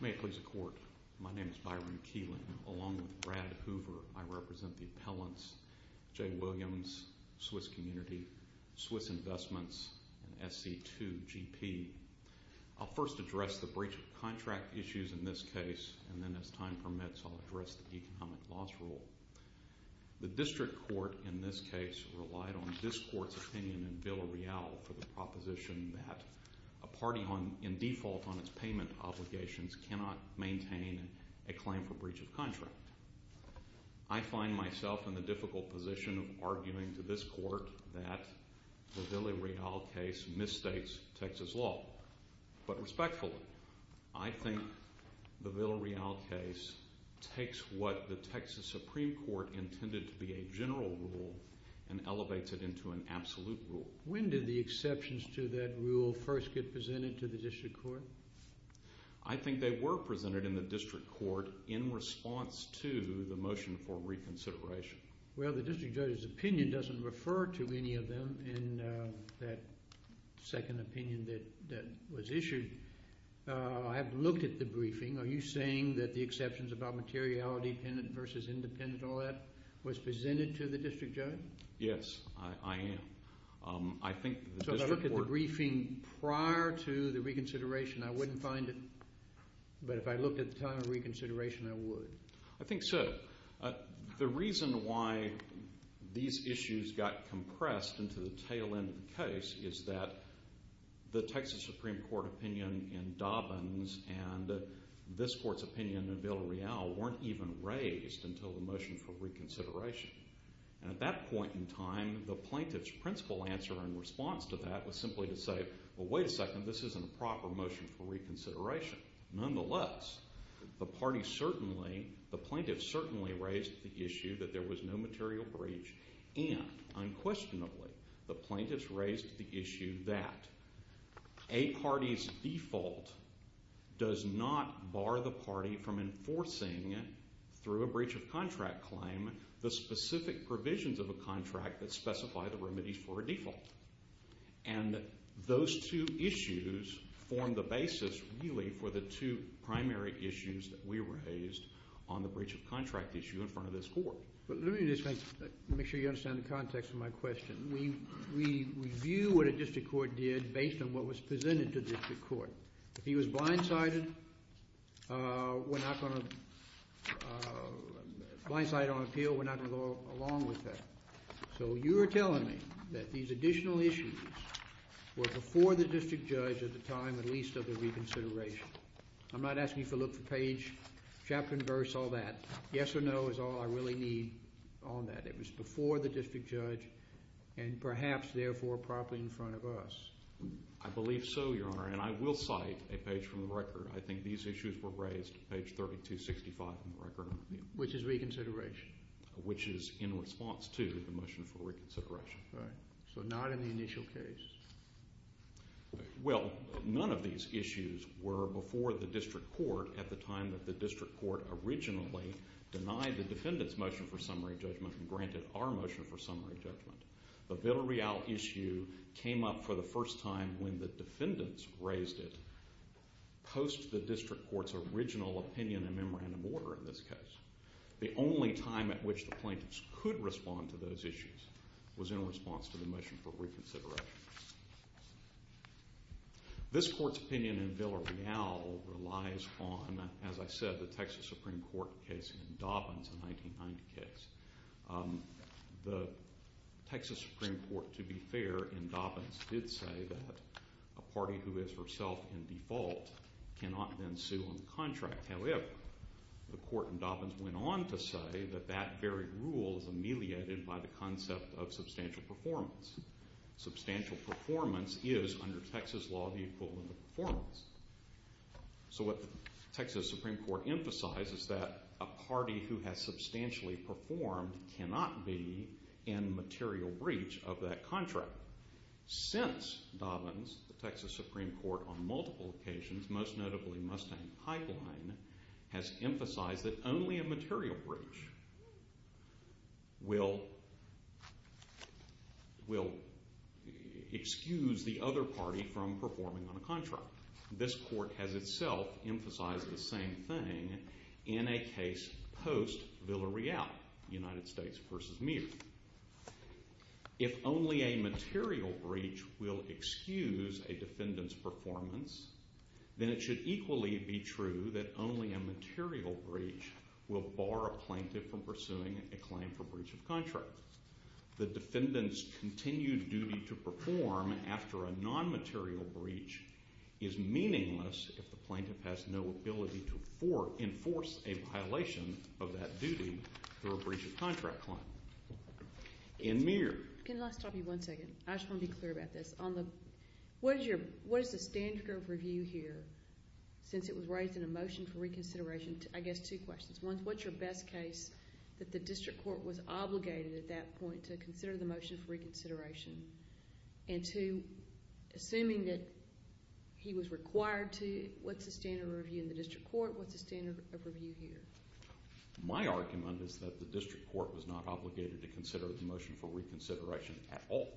May it please the Court, my name is Byron Keeling. Along with Brad Hoover, I represent the appellants, Jay Williams, Swiss Community, Swiss Investments, and SC2GP. I'll first address the breach of contract issues in this case, and then as time permits, I'll address the economic loss rule. The District Court in this case relied on this Court's opinion in Villarreal for the proposition that a party in default on its payment obligations cannot maintain a claim for breach of contract. I find myself in the difficult position of arguing to this Court that the Villarreal case misstates Texas law. But respectfully, I think the Villarreal case takes what the Texas Supreme Court intended to be a general rule and elevates it into an absolute rule. When did the exceptions to that rule first get presented to the District Court? I think they were presented in the District Court in response to the motion for reconsideration. Well, the District Judge's opinion doesn't refer to any of them in that the exceptions about materiality versus independent, all that, was presented to the District Judge? Yes, I am. So if I looked at the briefing prior to the reconsideration, I wouldn't find it. But if I looked at the time of reconsideration, I would. I think so. The reason why these issues got compressed into the tail end of the case is that the Texas Supreme Court opinion in Dobbins and this Court's opinion in Villarreal weren't even raised until the motion for reconsideration. And at that point in time, the plaintiff's principal answer in response to that was simply to say, well, wait a second, this isn't a proper motion for reconsideration. Nonetheless, the party certainly, the plaintiff certainly raised the issue that there was no material breach and, unquestionably, the plaintiff's raised the issue that a party's default does not bar the party from enforcing, through a breach of contract claim, the specific provisions of a contract that specify the remedies for a default. And those two issues form the basis, really, for the two primary issues that we raised on the breach of contract issue in front of this Court. Let me just make sure you understand the context of my question. We review what a If he was blindsided, we're not going to, blindsided on appeal, we're not going to go along with that. So you're telling me that these additional issues were before the district judge at the time, at least, of the reconsideration. I'm not asking you to look for page, chapter and verse, all that. Yes or no is all I really need on that. It was before the district judge and, perhaps, therefore, properly in front of us. I believe so, Your Honor, and I will cite a page from the record. I think these issues were raised, page 3265 from the record on appeal. Which is reconsideration. Which is in response to the motion for reconsideration. Right. So not in the initial case. Well, none of these issues were before the district court at the time that the district court originally denied the defendant's motion for summary judgment and granted our motion for summary judgment. The Villarreal issue came up for the first time when the defendants raised it, post the district court's original opinion in memorandum order in this case. The only time at which the plaintiffs could respond to those issues was in response to the motion for reconsideration. This court's opinion in Villarreal relies on, as I said, the Texas Supreme Court case in Dobbins, a 1990 case. The Texas Supreme Court, to be fair, in Dobbins did say that a party who is herself in default cannot then sue on contract. However, the court in Dobbins went on to say that that very rule is ameliorated by the concept of substantial performance. Substantial performance is, under Texas law, the equivalent of performance. So what the Texas Supreme Court emphasizes is that a party who has substantially performed cannot be in material breach of that contract. Since Dobbins, the Texas Supreme Court on multiple occasions, most notably Mustang Pipeline, has emphasized that only a material breach will excuse the other party from performing on a contract. This court has itself emphasized the same thing in a case post Villarreal, United States v. Meade. If only a material breach will excuse a defendant's performance, then it should equally be true that only a material breach will bar a plaintiff from pursuing a claim for breach of contract. The defendant's continued duty to perform after a non-material breach is meaningless if the plaintiff has no ability to enforce a violation of that duty for a breach of contract claim. In Meade. Can I stop you one second? I just want to be clear about this. What is the standard of review here since it was raised in a motion for reconsideration? I guess two questions. One, what's your best case that the district court was obligated at that point to consider the motion for reconsideration? And two, assuming that he was required to, what's the standard of review in the district court? What's the standard of review here? My argument is that the district court was not obligated to consider the motion for reconsideration at all.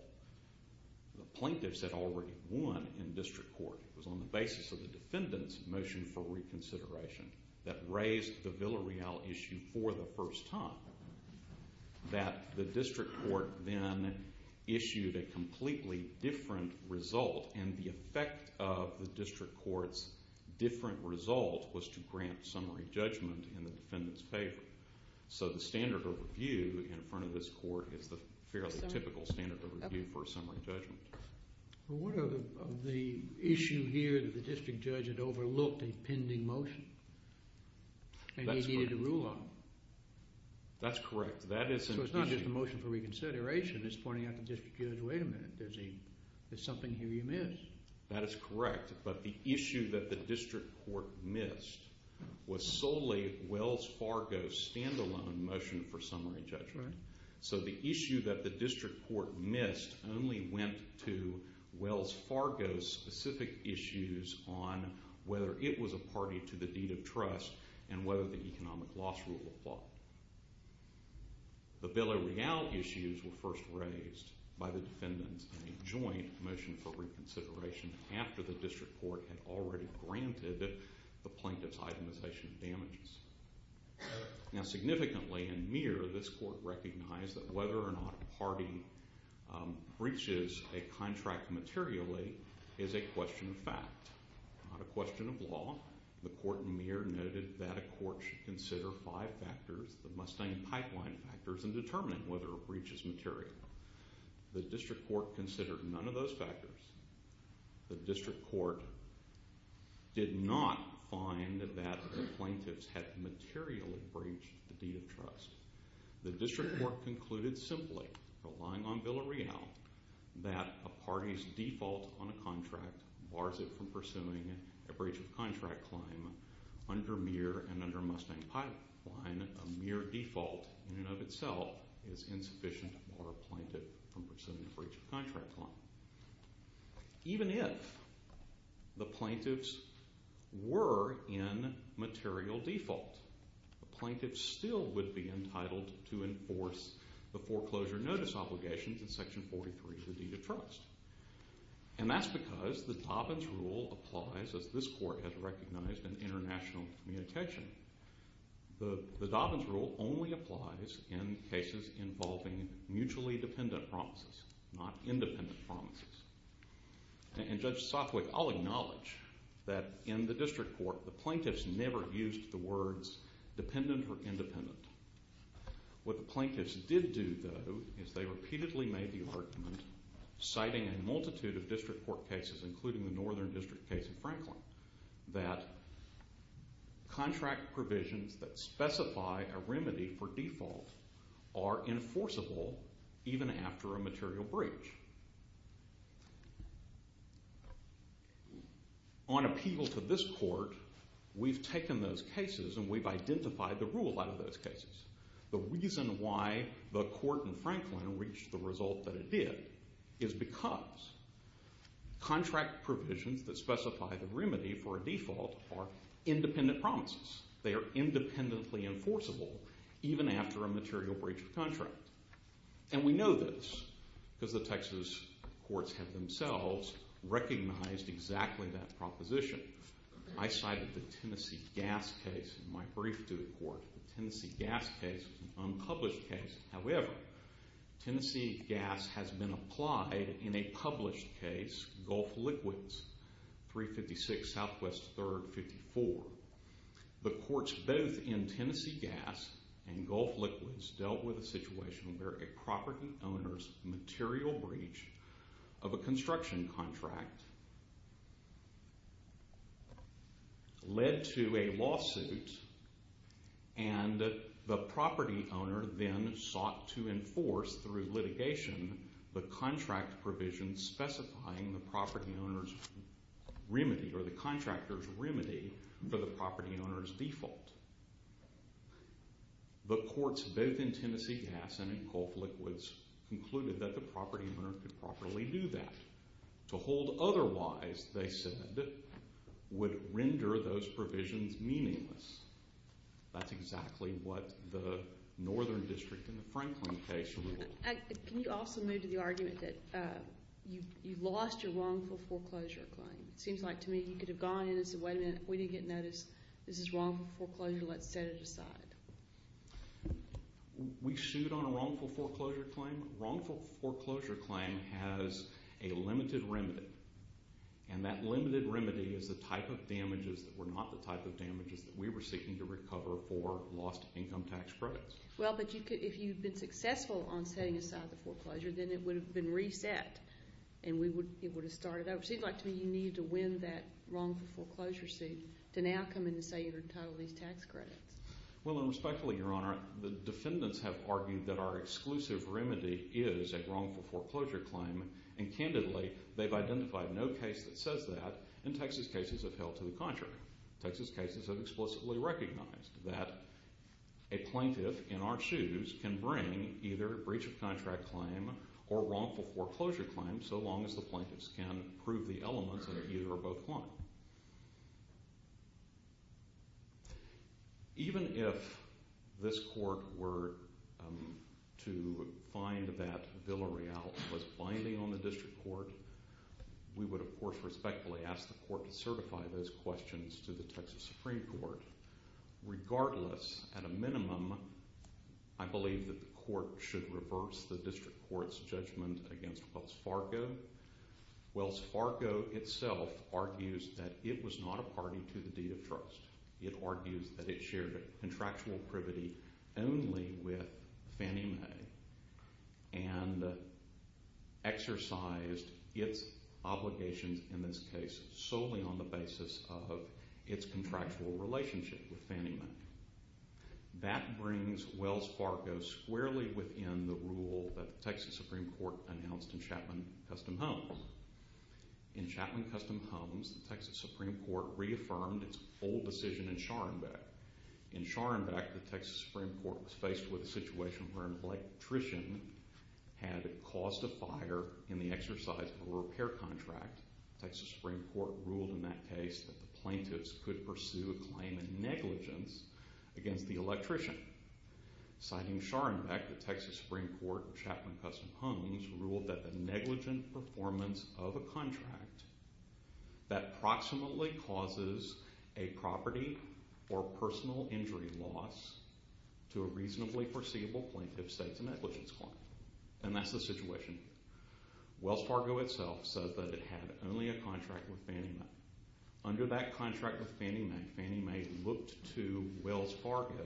The plaintiffs had already won in district court. It was on the basis of the defendant's motion for reconsideration that raised the Villareal issue for the first time that the district court then issued a completely different result, and the effect of the district court's different result was to grant summary judgment in the defendant's favor. So the standard of review in front of this court is the fairly typical standard of review for summary judgment. Well, what of the issue here that the district judge had overlooked a pending motion and he needed to rule on it? That's correct. That is an issue. So it's not just a motion for reconsideration. It's pointing out to the district judge, wait a minute, there's something here you missed. That is correct, but the issue that the district court missed was solely Wells Fargo's stand-alone motion for summary judgment. So the issue that the district court missed only went to Wells Fargo's specific issues on whether it was a party to the deed of trust and whether the economic loss rule applied. The Villareal issues were first raised by the defendants in a joint motion for reconsideration after the district court had already granted the plaintiffs itemization damages. Now significantly in Muir, this court recognized that whether or not a party breaches a contract materially is a question of fact, not a question of law. The court in Muir noted that a court should consider five factors, the Mustang pipeline factors, in determining whether it breaches materially. The district court considered none of those factors. The district court did not find that the plaintiffs had materially breached the deed of trust. The district court concluded simply, relying on Villareal, that a party's default on a contract bars it from pursuing a breach of contract claim. Under Muir and under Mustang pipeline, a Muir default in and of itself is insufficient to bar a plaintiff from pursuing a breach of contract claim. Even if the plaintiffs were in material default, the plaintiffs still would be entitled to enforce the foreclosure notice obligations in section 43 of the deed of trust. And that's because the Dobbins rule applies, as this court has recognized, in international communication. The Dobbins rule only applies in cases involving mutually dependent promises, not independent promises. And Judge Sothwick, I'll acknowledge that in the district court, the plaintiffs never used the words dependent or independent. What the plaintiffs did do, though, is they repeatedly made the argument, citing a multitude of district court cases, including the Northern District case in Franklin, that contract provisions that specify a remedy for default are enforceable even after a material breach. On appeal to this court, we've taken those cases and we've identified the rule out of those cases. The reason why the court in Franklin reached the result that it did is because contract provisions that specify the remedy for a default are independent promises. They are independently enforceable even after a material breach of contract. And we know this because the Texas courts have themselves recognized exactly that proposition. I cited the Tennessee gas case in my brief to the court. The Tennessee gas case was an unpublished case. However, Tennessee gas has been applied in a published case, Gulf Liquids, 356 Southwest 3rd 54. The courts both in Tennessee gas and Gulf Liquids dealt with a situation where a property owner's material breach of a construction contract led to a lawsuit and the property owner then sought to enforce, through litigation, the contract provisions specifying the property owner's remedy or the contractor's remedy for the property owner's default. The courts both in Tennessee gas and in Gulf Liquids concluded that the property owner could properly do that. To hold otherwise, they said, would render those provisions meaningless. That's exactly what the northern district in the Franklin case ruled. Can you also move to the argument that you lost your wrongful foreclosure claim? It seems like to me you could have gone in and said, wait a minute, we didn't get notice, this is wrongful foreclosure, let's set it aside. We sued on a wrongful foreclosure claim. Wrongful foreclosure claim has a limited remedy and that limited remedy is the type of damages that were not the type of damages that we were seeking to recover for lost income tax credits. Well, but if you've been successful on setting aside the foreclosure, then it would have been reset and it would have started over. So it seems like to me you needed to win that wrongful foreclosure suit to now come in and say you're entitled to these tax credits. Well, and respectfully, Your Honor, the defendants have argued that our exclusive remedy is a wrongful foreclosure claim. And candidly, they've identified no case that says that and Texas cases have held to the contrary. Texas cases have explicitly recognized that a plaintiff in our shoes can bring either a breach of contract claim or wrongful foreclosure claim so long as the plaintiffs can prove the elements of either or both claim. Even if this court were to find that Villareal was binding on the district court, we would, of course, respectfully ask the court to certify those questions to the Texas Supreme Court. Regardless, at a minimum, I believe that the court should reverse the district court's judgment against Wells Fargo. Wells Fargo itself argues that it was not a party to the deed of trust. It argues that it shared contractual privity only with Fannie Mae and exercised its obligations in this case solely on the basis of its contractual relationship with Fannie Mae. That brings Wells Fargo squarely within the rule that the Texas Supreme Court announced in Chapman Custom Homes. In Chapman Custom Homes, the Texas Supreme Court reaffirmed its full decision in Scharenbeck. In Scharenbeck, the Texas Supreme Court was faced with a situation where an electrician had caused a fire in the exercise of a repair contract. The Texas Supreme Court ruled in that case that the plaintiffs could pursue a claim in negligence against the electrician. Citing Scharenbeck, the Texas Supreme Court in Chapman Custom Homes ruled that the negligent performance of a contract that proximately causes a property or personal injury loss to a reasonably foreseeable plaintiff sets a negligence claim. Wells Fargo itself said that it had only a contract with Fannie Mae. Under that contract with Fannie Mae, Fannie Mae looked to Wells Fargo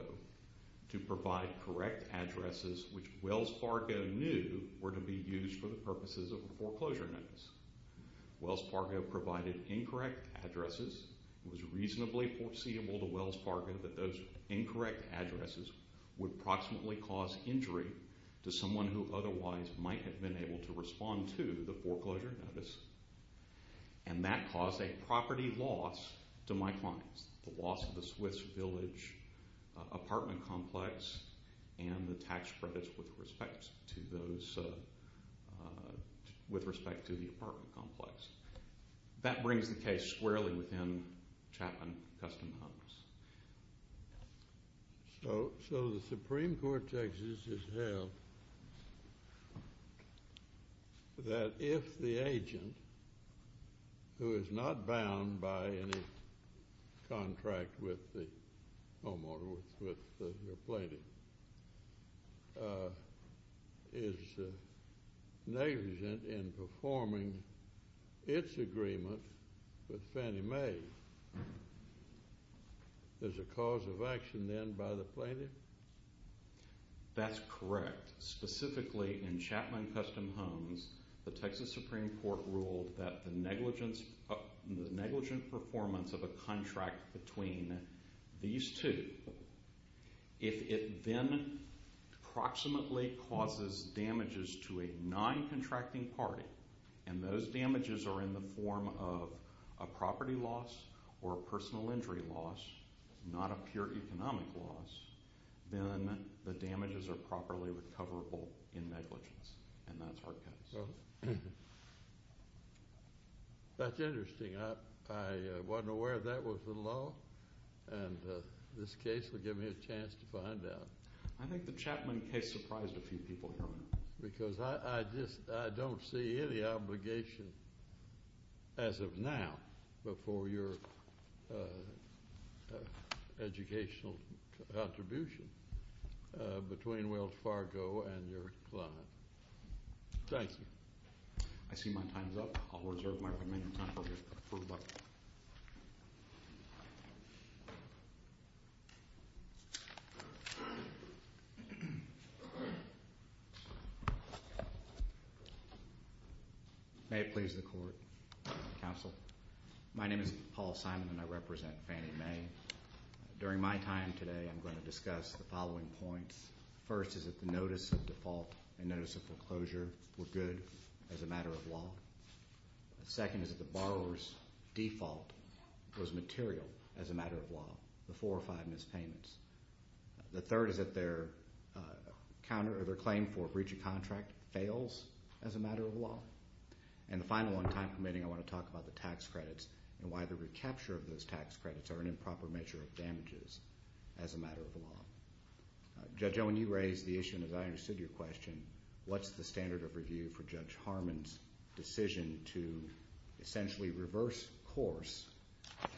to provide correct addresses which Wells Fargo knew were to be used for the purposes of a foreclosure notice. Wells Fargo provided incorrect addresses. It was reasonably foreseeable to Wells Fargo that those incorrect addresses would proximately cause injury to someone who otherwise might have been able to respond to the foreclosure notice. And that caused a property loss to my clients, the loss of the Swiss Village apartment complex and the tax credits with respect to the apartment complex. That brings the case squarely within Chapman Custom Homes. So the Supreme Court, Texas, has held that if the agent, who is not bound by any contract with the homeowner, with the plaintiff, is negligent in performing its agreement with Fannie Mae, there's a cause of action then by the plaintiff? That's correct. Specifically in Chapman Custom Homes, the Texas Supreme Court ruled that the negligent performance of a contract between these two, if it then proximately causes damages to a non-contracting party, and those damages are in the form of a property loss or a personal injury loss, not a pure economic loss, then the damages are properly recoverable in negligence. That's interesting. I wasn't aware that was the law, and this case will give me a chance to find out. I think the Chapman case surprised a few people, Herman. Because I don't see any obligation as of now before your educational contribution between Wells Fargo and your client. Thank you. I see my time is up. I'll reserve my remaining time for rebuttal. May it please the Court, Counsel. My name is Paul Simon, and I represent Fannie Mae. During my time today, I'm going to discuss the following points. First is that the notice of default and notice of foreclosure were good as a matter of law. Second is that the borrower's default was material as a matter of law, the four or five mispayments. The third is that their claim for breach of contract fails as a matter of law. And the final on time permitting, I want to talk about the tax credits and why the recapture of those tax credits are an improper measure of damages as a matter of law. Judge Owen, you raised the issue, and as I understood your question, what's the standard of review for Judge Harmon's decision to essentially reverse course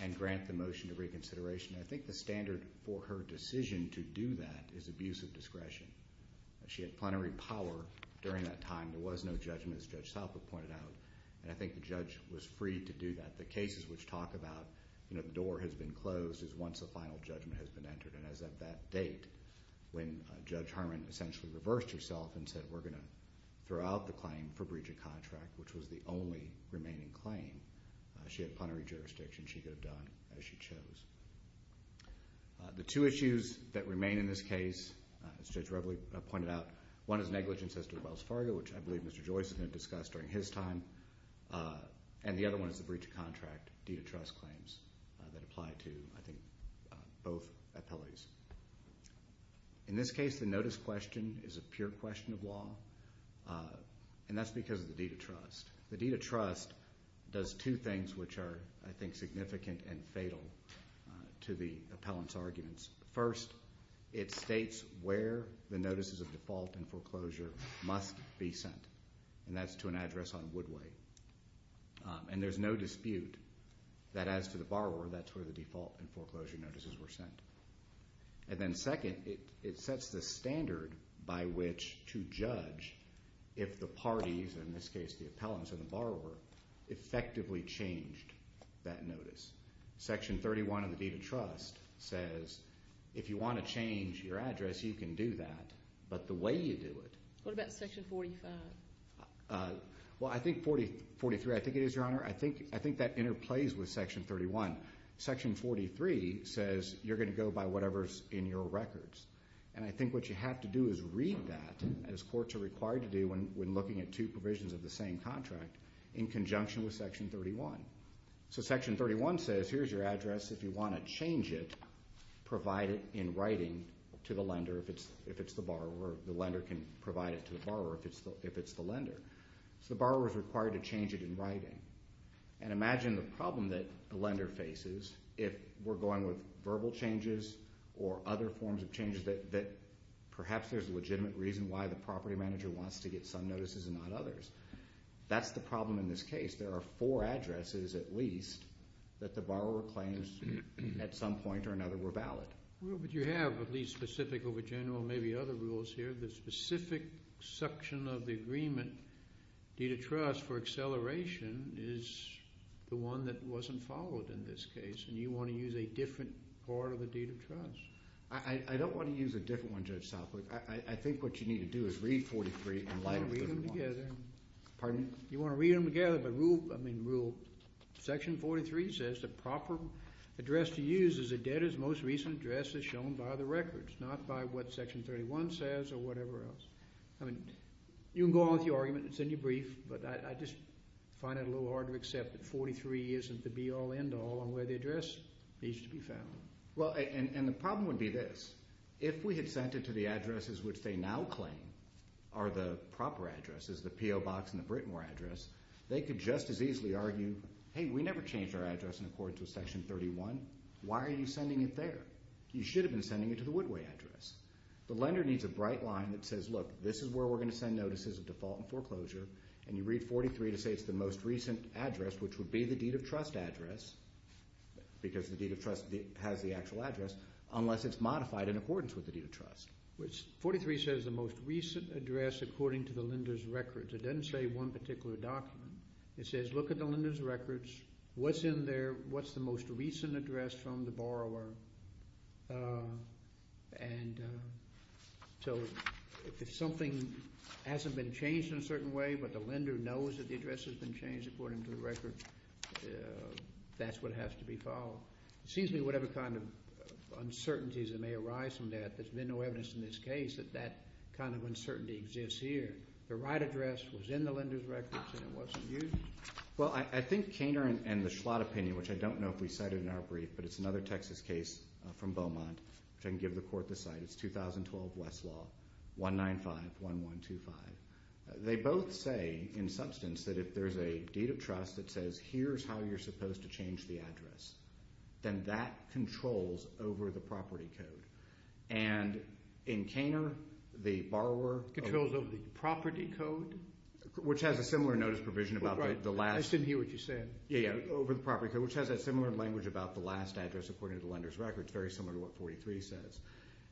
and grant the motion of reconsideration? I think the standard for her decision to do that is abuse of discretion. She had plenary power during that time. There was no judgment, as Judge Salpo pointed out. And I think the judge was free to do that. The cases which talk about the door has been closed is once the final judgment has been entered. And as of that date, when Judge Harmon essentially reversed herself and said, we're going to throw out the claim for breach of contract, which was the only remaining claim, she had plenary jurisdiction. She could have done as she chose. The two issues that remain in this case, as Judge Reveley pointed out, one is negligence as to the Wells Fargo, which I believe Mr. Joyce had discussed during his time. And the other one is the breach of contract deed of trust claims that apply to, I think, both appellees. In this case, the notice question is a pure question of law, and that's because of the deed of trust. The deed of trust does two things which are, I think, significant and fatal to the appellant's arguments. First, it states where the notices of default and foreclosure must be sent, and that's to an address on Woodway. And there's no dispute that as to the borrower, that's where the default and foreclosure notices were sent. And then second, it sets the standard by which to judge if the parties, in this case the appellants and the borrower, effectively changed that notice. Section 31 of the deed of trust says if you want to change your address, you can do that, but the way you do it. What about Section 45? Well, I think 43, I think it is, Your Honor. I think that interplays with Section 31. Section 43 says you're going to go by whatever's in your records. And I think what you have to do is read that, as courts are required to do when looking at two provisions of the same contract, in conjunction with Section 31. So Section 31 says here's your address. If you want to change it, provide it in writing to the lender if it's the borrower. The lender can provide it to the borrower if it's the lender. So the borrower is required to change it in writing. And imagine the problem that a lender faces if we're going with verbal changes or other forms of changes that perhaps there's a legitimate reason why the property manager wants to get some notices and not others. That's the problem in this case. There are four addresses at least that the borrower claims at some point or another were valid. Well, but you have at least specific over general, maybe other rules here, the specific section of the agreement deed of trust for acceleration is the one that wasn't followed in this case, and you want to use a different part of the deed of trust. I don't want to use a different one, Judge Southwick. I think what you need to do is read 43 in light of 41. You want to read them together. Pardon me? You want to read them together, but rule, I mean rule. Section 43 says the proper address to use is a debtor's most recent address as shown by the records, not by what Section 31 says or whatever else. I mean you can go on with your argument. It's in your brief, but I just find it a little hard to accept that 43 isn't the be-all, end-all on where the address needs to be found. Well, and the problem would be this. If we had sent it to the addresses which they now claim are the proper addresses, the P.O. Box and the Britmore address, they could just as easily argue, hey, we never changed our address in accordance with Section 31. Why are you sending it there? You should have been sending it to the Woodway address. The lender needs a bright line that says, look, this is where we're going to send notices of default and foreclosure, and you read 43 to say it's the most recent address which would be the deed of trust address because the deed of trust has the actual address unless it's modified in accordance with the deed of trust. 43 says the most recent address according to the lender's records. It doesn't say one particular document. It says look at the lender's records, what's in there, what's the most recent address from the borrower, and so if something hasn't been changed in a certain way, but the lender knows that the address has been changed according to the record, that's what has to be followed. It seems to me whatever kind of uncertainties that may arise from that, there's been no evidence in this case that that kind of uncertainty exists here. The right address was in the lender's records and it wasn't used. Well, I think Koehner and the Schlott opinion, which I don't know if we cited in our brief, but it's another Texas case from Beaumont, which I can give the court the site. It's 2012 Westlaw 195-1125. They both say in substance that if there's a deed of trust that says here's how you're supposed to change the address, then that controls over the property code. And in Koehner, the borrower— Controls over the property code? Which has a similar notice provision about the last— I didn't hear what you said. Yeah, yeah, over the property code, which has that similar language about the last address according to the lender's records, very similar to what 43 says.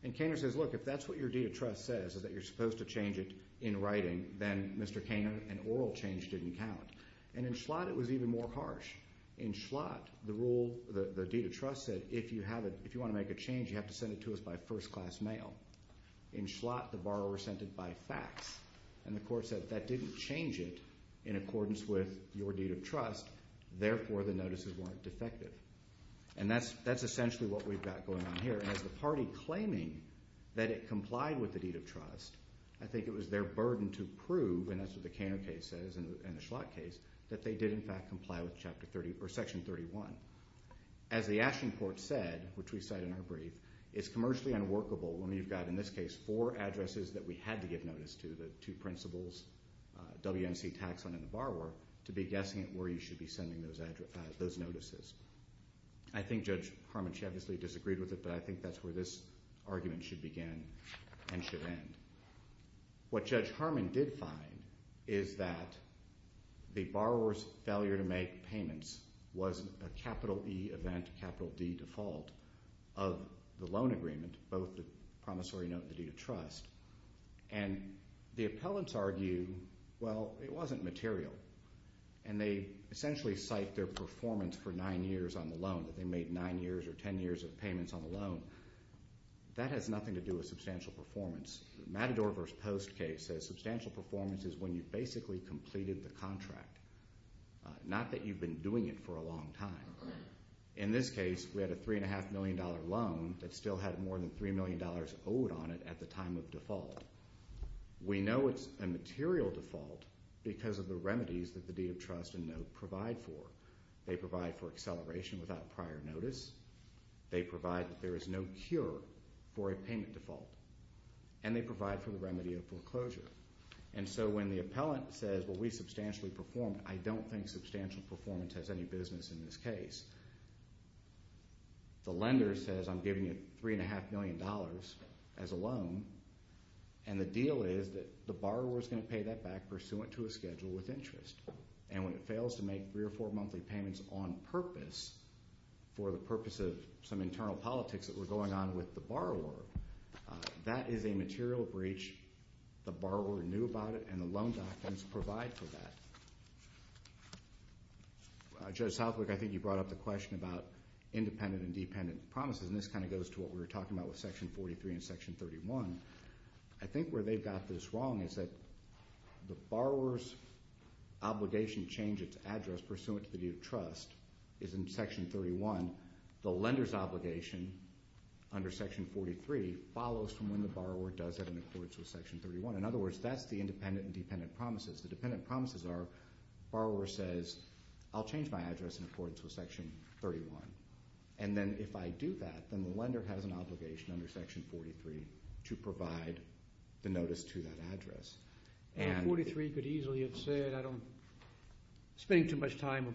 And Koehner says, look, if that's what your deed of trust says, is that you're supposed to change it in writing, then Mr. Koehner, an oral change didn't count. And in Schlott, it was even more harsh. In Schlott, the rule, the deed of trust said if you want to make a change, you have to send it to us by first-class mail. In Schlott, the borrower sent it by fax. And the court said that didn't change it in accordance with your deed of trust. Therefore, the notices weren't defective. And that's essentially what we've got going on here. As the party claiming that it complied with the deed of trust, I think it was their burden to prove, and that's what the Koehner case says and the Schlott case, that they did in fact comply with Section 31. As the Ashton Court said, which we cite in our brief, it's commercially unworkable when you've got, in this case, four addresses that we had to give notice to, the two principals, WNC Taxon and the borrower, to be guessing at where you should be sending those notices. I think Judge Harmon, she obviously disagreed with it, but I think that's where this argument should begin and should end. What Judge Harmon did find is that the borrower's failure to make payments was a capital E event, capital D default of the loan agreement, both the promissory note and the deed of trust. And the appellants argue, well, it wasn't material. And they essentially cite their performance for nine years on the loan, that they made nine years or ten years of payments on the loan. That has nothing to do with substantial performance. The Matador v. Post case says substantial performance is when you've basically completed the contract, not that you've been doing it for a long time. In this case, we had a $3.5 million loan that still had more than $3 million owed on it at the time of default. We know it's a material default because of the remedies that the deed of trust and note provide for. They provide for acceleration without prior notice. They provide that there is no cure for a payment default. And they provide for the remedy of foreclosure. And so when the appellant says, well, we substantially performed, I don't think substantial performance has any business in this case. The lender says I'm giving you $3.5 million as a loan, and the deal is that the borrower is going to pay that back pursuant to a schedule with interest. And when it fails to make three or four monthly payments on purpose for the purpose of some internal politics that were going on with the borrower, that is a material breach. The borrower knew about it, and the loan documents provide for that. Judge Southwick, I think you brought up the question about independent and dependent promises, and this kind of goes to what we were talking about with Section 43 and Section 31. I think where they've got this wrong is that the borrower's obligation to change its address pursuant to the deed of trust is in Section 31. The lender's obligation under Section 43 follows from when the borrower does have an accordance with Section 31. In other words, that's the independent and dependent promises. The dependent promises are borrower says, I'll change my address in accordance with Section 31. And then if I do that, then the lender has an obligation under Section 43 to provide the notice to that address. And 43 could easily have said, I don't spend too much time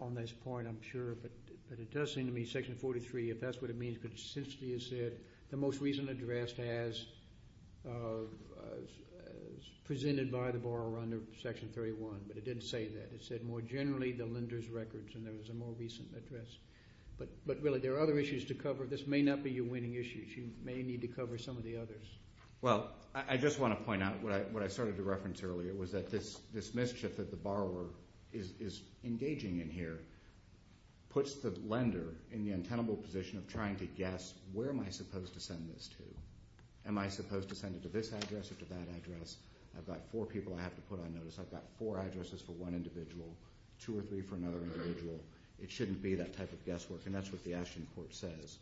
on this point, I'm sure, but it does seem to me Section 43, if that's what it means, could simply have said the most recent address as presented by the borrower under Section 31. But it didn't say that. It said more generally the lender's records, and there was a more recent address. But really, there are other issues to cover. This may not be your winning issue. You may need to cover some of the others. Well, I just want to point out what I started to reference earlier, was that this mischief that the borrower is engaging in here puts the lender in the untenable position of trying to guess, where am I supposed to send this to? Am I supposed to send it to this address or to that address? I've got four people I have to put on notice. I've got four addresses for one individual, two or three for another individual. It shouldn't be that type of guesswork, and that's what the Ashton Court says.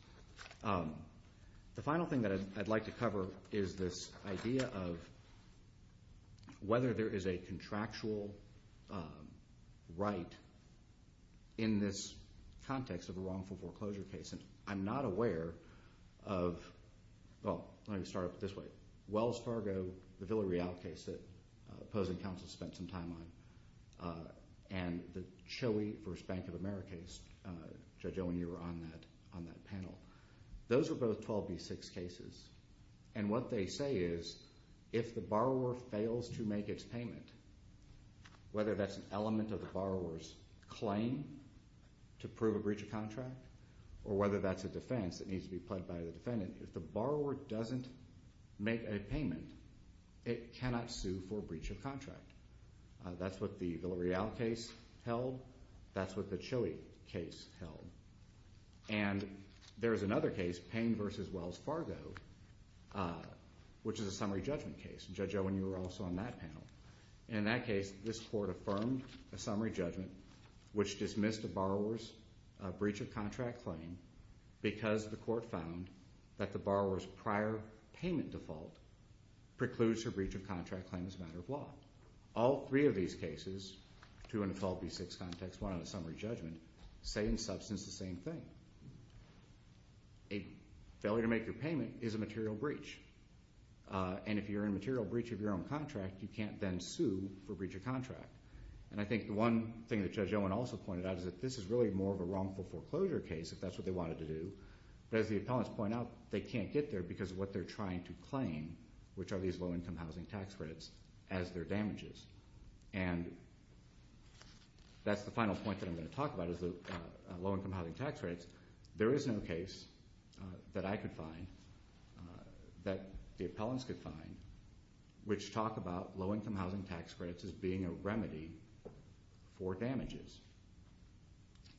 The final thing that I'd like to cover is this idea of whether there is a contractual right in this context of a wrongful foreclosure case. And I'm not aware of, well, let me start up this way. Wells Fargo, the Villa Real case that opposing counsel spent some time on, and the Choey v. Bank of America case, Judge Owen, you were on that panel. Those are both 12B6 cases, and what they say is if the borrower fails to make its payment, whether that's an element of the borrower's claim to prove a breach of contract or whether that's a defense that needs to be pled by the defendant, if the borrower doesn't make a payment, it cannot sue for a breach of contract. That's what the Villa Real case held. That's what the Choey case held. And there is another case, Payne v. Wells Fargo, which is a summary judgment case. Judge Owen, you were also on that panel. In that case, this Court affirmed a summary judgment which dismissed the borrower's breach of contract claim because the Court found that the borrower's prior payment default precludes her breach of contract claim as a matter of law. All three of these cases, two in a 12B6 context, one on a summary judgment, say in substance the same thing. A failure to make your payment is a material breach. And if you're in material breach of your own contract, you can't then sue for breach of contract. And I think the one thing that Judge Owen also pointed out is that this is really more of a wrongful foreclosure case if that's what they wanted to do. But as the appellants point out, they can't get there because of what they're trying to claim, which are these low-income housing tax credits, as their damages. And that's the final point that I'm going to talk about is the low-income housing tax credits. There is no case that I could find that the appellants could find which talked about low-income housing tax credits as being a remedy for damages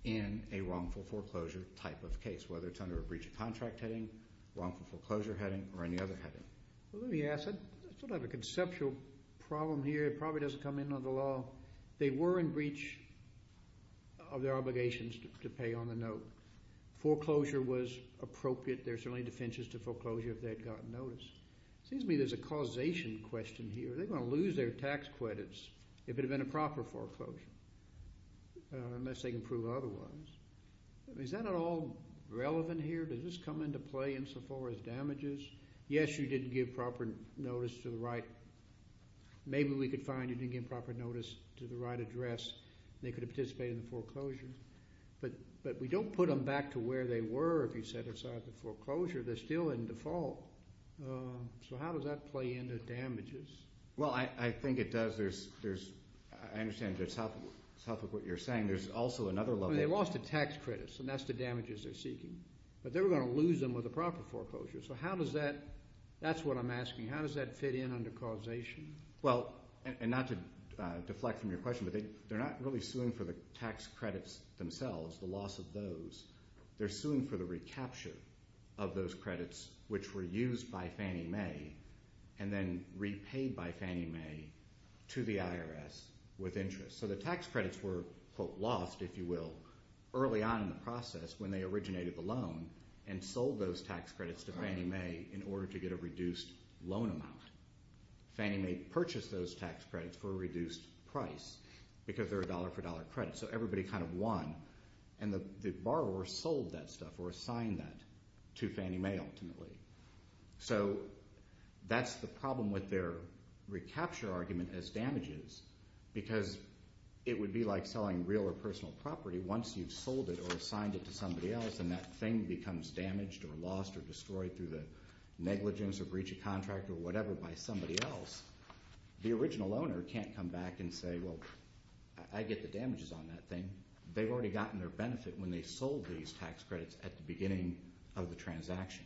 in a wrongful foreclosure type of case, whether it's under a breach of contract heading, wrongful foreclosure heading, or any other heading. Well, let me ask. I still don't have a conceptual problem here. It probably doesn't come in under the law. They were in breach of their obligations to pay on the note. Foreclosure was appropriate. There are certainly defenses to foreclosure if they had gotten notice. It seems to me there's a causation question here. Are they going to lose their tax credits if it had been a proper foreclosure unless they can prove otherwise? Is that at all relevant here? Does this come into play insofar as damages? Yes, you didn't give proper notice to the right. Maybe we could find you didn't give proper notice to the right address, and they could have participated in the foreclosure. But we don't put them back to where they were if you set aside the foreclosure. They're still in default. So how does that play into damages? Well, I think it does. I understand that's half of what you're saying. There's also another level. They lost the tax credits, and that's the damages they're seeking. But they were going to lose them with a proper foreclosure. So how does that—that's what I'm asking. How does that fit in under causation? Well, and not to deflect from your question, but they're not really suing for the tax credits themselves, the loss of those. They're suing for the recapture of those credits which were used by Fannie Mae and then repaid by Fannie Mae to the IRS with interest. So the tax credits were, quote, lost, if you will, early on in the process when they originated the loan and sold those tax credits to Fannie Mae in order to get a reduced loan amount. Fannie Mae purchased those tax credits for a reduced price because they're a dollar-for-dollar credit. So everybody kind of won. And the borrower sold that stuff or assigned that to Fannie Mae ultimately. So that's the problem with their recapture argument as damages because it would be like selling real or personal property once you've sold it or assigned it to somebody else and that thing becomes damaged or lost or destroyed through the negligence or breach of contract or whatever by somebody else. The original owner can't come back and say, well, I get the damages on that thing. They've already gotten their benefit when they sold these tax credits at the beginning of the transaction.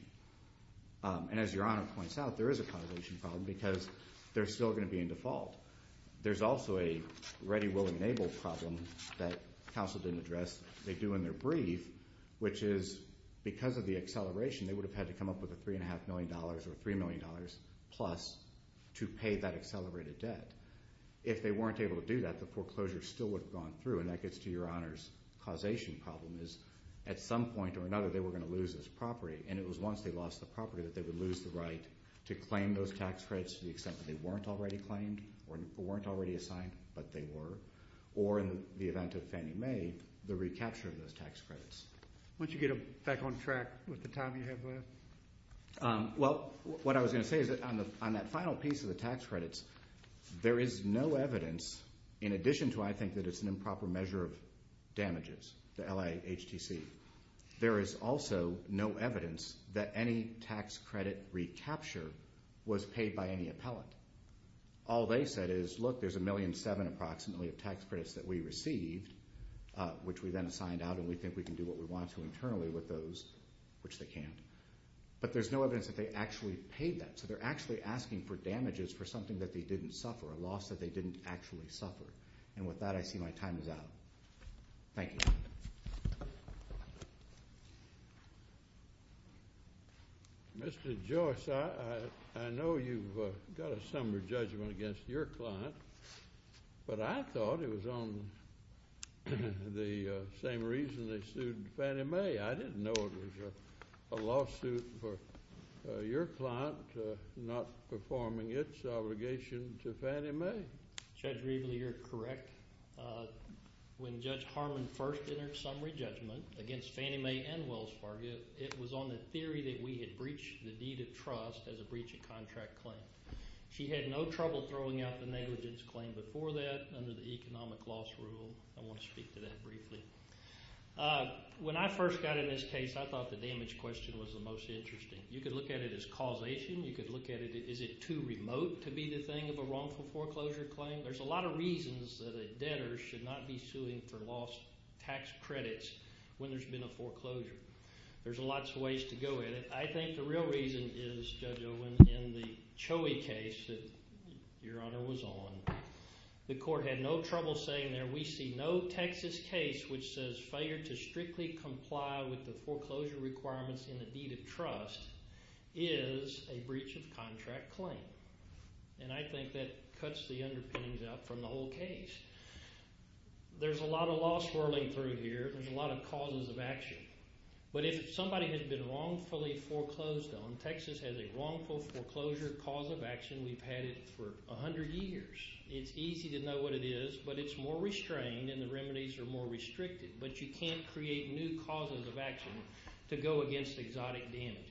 And as Your Honor points out, there is a causation problem because they're still going to be in default. There's also a ready, will-enabled problem that counsel didn't address. They do in their brief, which is because of the acceleration, they would have had to come up with a $3.5 million or $3 million plus to pay that accelerated debt. If they weren't able to do that, the foreclosure still would have gone through, and that gets to Your Honor's causation problem is at some point or another they were going to lose this property, and it was once they lost the property that they would lose the right to claim those tax credits to the extent that they weren't already claimed or weren't already assigned, but they were, or in the event of Fannie Mae, the recapture of those tax credits. Why don't you get back on track with the time you have left? Well, what I was going to say is that on that final piece of the tax credits, there is no evidence, in addition to I think that it's an improper measure of damages, the LIHTC, there is also no evidence that any tax credit recapture was paid by any appellant. All they said is, look, there's $1.7 million approximately of tax credits that we received, which we then assigned out, and we think we can do what we want to internally with those, which they can't. But there's no evidence that they actually paid that, so they're actually asking for damages for something that they didn't suffer, a loss that they didn't actually suffer. And with that, I see my time is out. Thank you. Mr. Joyce, I know you've got a summer judgment against your client, but I thought it was on the same reason they sued Fannie Mae. I didn't know it was a lawsuit for your client not performing its obligation to Fannie Mae. Judge Reveley, you're correct. When Judge Harmon first entered a summary judgment against Fannie Mae and Wells Fargo, it was on the theory that we had breached the deed of trust as a breach of contract claim. She had no trouble throwing out the negligence claim before that under the economic loss rule. I want to speak to that briefly. When I first got in this case, I thought the damage question was the most interesting. You could look at it as causation. You could look at it, is it too remote to be the thing of a wrongful foreclosure claim? There's a lot of reasons that a debtor should not be suing for lost tax credits when there's been a foreclosure. There's lots of ways to go at it. I think the real reason is, Judge Owen, in the Choe case that Your Honor was on, the court had no trouble saying there, we see no Texas case which says failure to strictly comply with the foreclosure requirements in the deed of trust is a breach of contract claim. And I think that cuts the underpinnings out from the whole case. There's a lot of law swirling through here. There's a lot of causes of action. But if somebody has been wrongfully foreclosed on, Texas has a wrongful foreclosure cause of action. We've had it for 100 years. It's easy to know what it is, but it's more restrained and the remedies are more restricted. But you can't create new causes of action to go against exotic damages.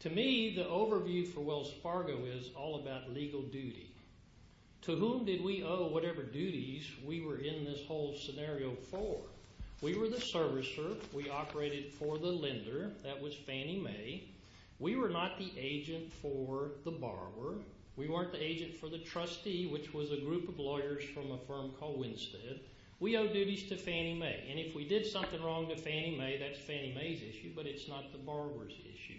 To me, the overview for Wells Fargo is all about legal duty. To whom did we owe whatever duties we were in this whole scenario for? We were the servicer. We operated for the lender. That was Fannie Mae. We were not the agent for the borrower. We weren't the agent for the trustee, which was a group of lawyers from a firm called Winstead. We owe duties to Fannie Mae. And if we did something wrong to Fannie Mae, that's Fannie Mae's issue, but it's not the borrower's issue.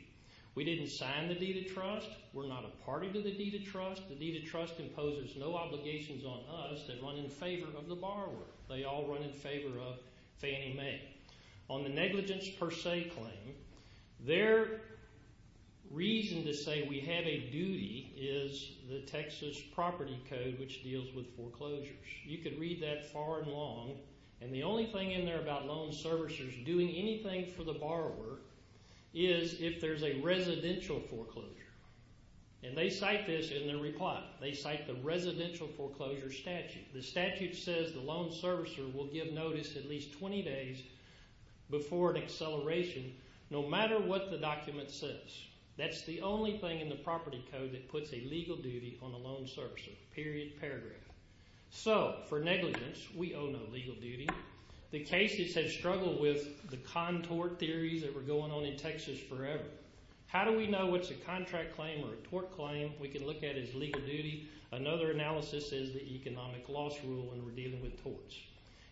We didn't sign the deed of trust. We're not a party to the deed of trust. The deed of trust imposes no obligations on us that run in favor of the borrower. They all run in favor of Fannie Mae. On the negligence per se claim, their reason to say we have a duty is the Texas Property Code, which deals with foreclosures. You could read that far and long, and the only thing in there about loan servicers doing anything for the borrower is if there's a residential foreclosure. And they cite this in their reply. They cite the residential foreclosure statute. The statute says the loan servicer will give notice at least 20 days before an acceleration no matter what the document says. That's the only thing in the property code that puts a legal duty on a loan servicer, period, paragraph. So for negligence, we owe no legal duty. The cases have struggled with the contort theories that were going on in Texas forever. How do we know what's a contract claim or a tort claim? We can look at it as legal duty. Another analysis is the economic loss rule when we're dealing with torts.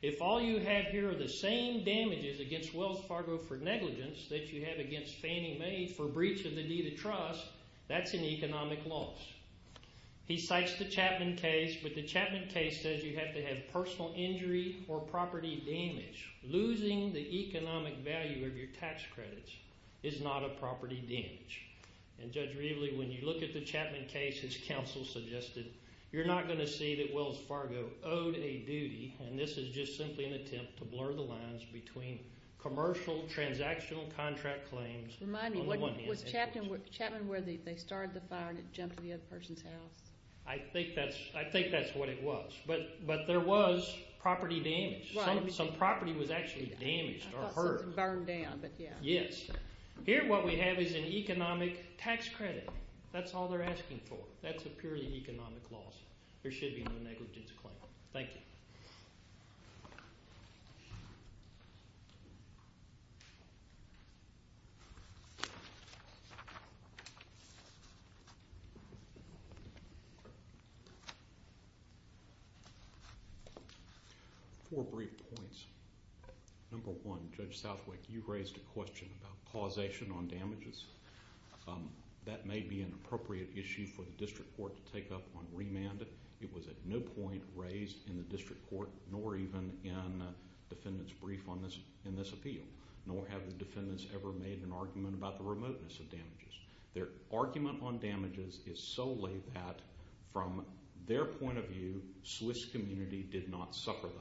If all you have here are the same damages against Wells Fargo for negligence that you have against Fannie Mae for breach of the deed of trust, that's an economic loss. He cites the Chapman case, but the Chapman case says you have to have personal injury or property damage. Losing the economic value of your tax credits is not a property damage. And, Judge Reveley, when you look at the Chapman case, as counsel suggested, you're not going to see that Wells Fargo owed a duty, and this is just simply an attempt to blur the lines between commercial, transactional contract claims. Remind me, was Chapman where they started the fire and it jumped to the other person's house? I think that's what it was, but there was property damage. Some property was actually damaged or hurt. I thought some was burned down, but yeah. Yes. Here what we have is an economic tax credit. That's all they're asking for. That's a purely economic loss. There should be no negligence claim. Thank you. Four brief points. Number one, Judge Southwick, you raised a question about causation on damages. That may be an appropriate issue for the district court to take up on remand. It was at no point raised in the district court, nor even in defendants' brief on this appeal, nor have the defendants ever made an argument about the remoteness of damages. Their argument on damages is solely that, from their point of view, Swiss community did not suffer them,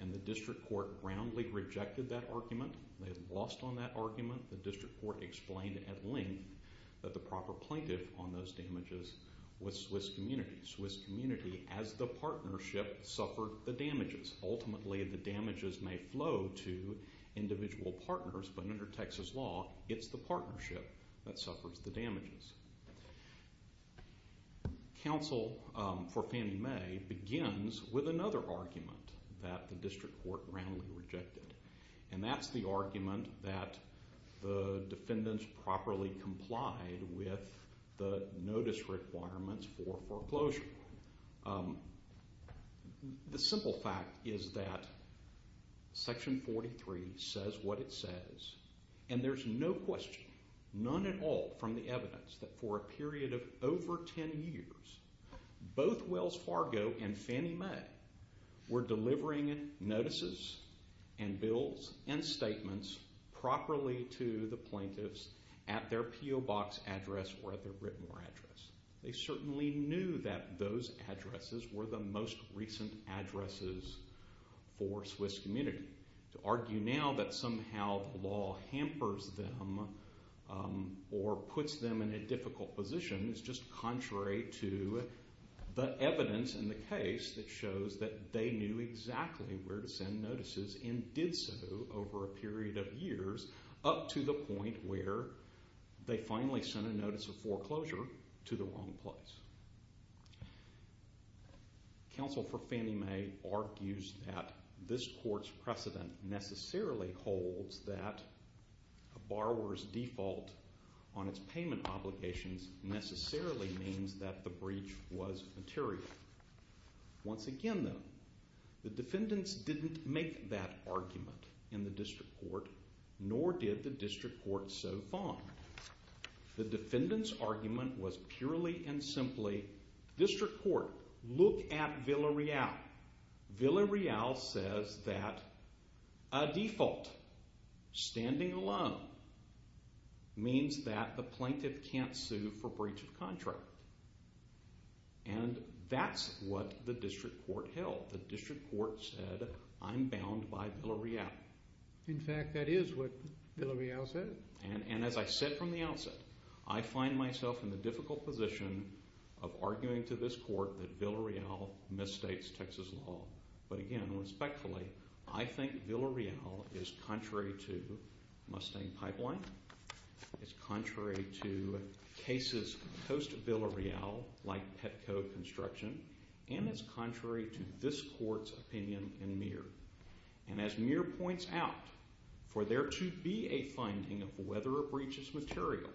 and the district court roundly rejected that argument. They lost on that argument. The district court explained at length that the proper plaintiff on those damages was Swiss community. Swiss community, as the partnership, suffered the damages. Ultimately, the damages may flow to individual partners, but under Texas law, it's the partnership that suffers the damages. Counsel for Fannie Mae begins with another argument that the district court roundly rejected, and that's the argument that the defendants properly complied with the notice requirements for foreclosure. The simple fact is that Section 43 says what it says, and there's no question, none at all, from the evidence that for a period of over 10 years, both Wells Fargo and Fannie Mae were delivering notices and bills and statements properly to the plaintiffs at their PO Box address or at their Britmore address. They certainly knew that those addresses were the most recent addresses for Swiss community. To argue now that somehow the law hampers them or puts them in a difficult position is just contrary to the evidence in the case that shows that they knew exactly where to send notices and did so over a period of years up to the point where they finally sent a notice of foreclosure to the wrong place. Counsel for Fannie Mae argues that this court's precedent necessarily holds that a borrower's default on its payment obligations necessarily means that the breach was material. Once again, though, the defendants didn't make that argument in the district court, nor did the district court so far. The defendants' argument was purely and simply, district court, look at Villarreal. Villarreal says that a default, standing alone, means that the plaintiff can't sue for breach of contract. And that's what the district court held. The district court said, I'm bound by Villarreal. In fact, that is what Villarreal said. And as I said from the outset, I find myself in the difficult position of arguing to this court that Villarreal misstates Texas law. But again, respectfully, I think Villarreal is contrary to Mustang Pipeline, it's contrary to cases post-Villarreal like Petco Construction, and it's contrary to this court's opinion in Muir. And as Muir points out, for there to be a finding of whether a breach is material,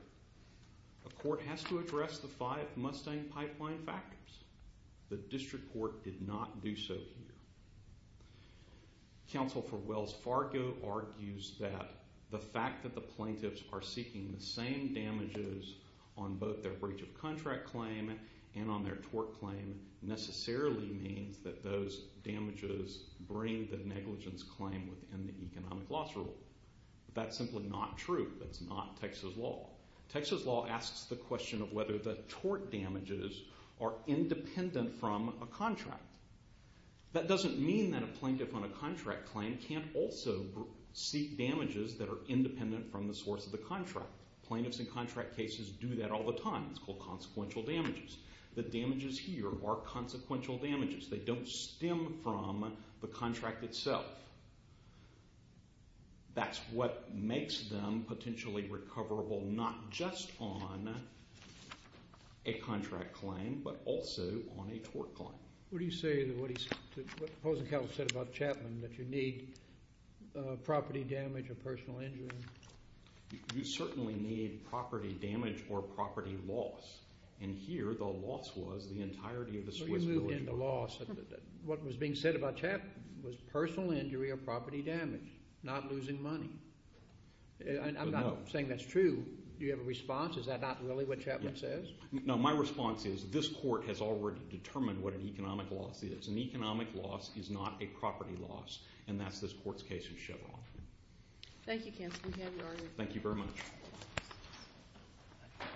a court has to address the five Mustang Pipeline factors. The district court did not do so here. Counsel for Wells Fargo argues that the fact that the plaintiffs are seeking the same damages on both their breach of contract claim and on their tort claim necessarily means that those damages bring the negligence claim within the economic loss rule. That's simply not true. That's not Texas law. Texas law asks the question of whether the tort damages are independent from a contract. That doesn't mean that a plaintiff on a contract claim can't also seek damages that are independent from the source of the contract. Plaintiffs in contract cases do that all the time. It's called consequential damages. The damages here are consequential damages. They don't stem from the contract itself. That's what makes them potentially recoverable not just on a contract claim but also on a tort claim. What do you say to what Hosenkamp said about Chapman, that you need property damage or personal injury? You certainly need property damage or property loss. Here the loss was the entirety of the Swiss military. You moved into loss. What was being said about Chapman was personal injury or property damage, not losing money. I'm not saying that's true. Do you have a response? Is that not really what Chapman says? No, my response is this court has already determined what an economic loss is. An economic loss is not a property loss, and that's this court's case in Chevron. Thank you, Counsel. We have your argument. Thank you very much.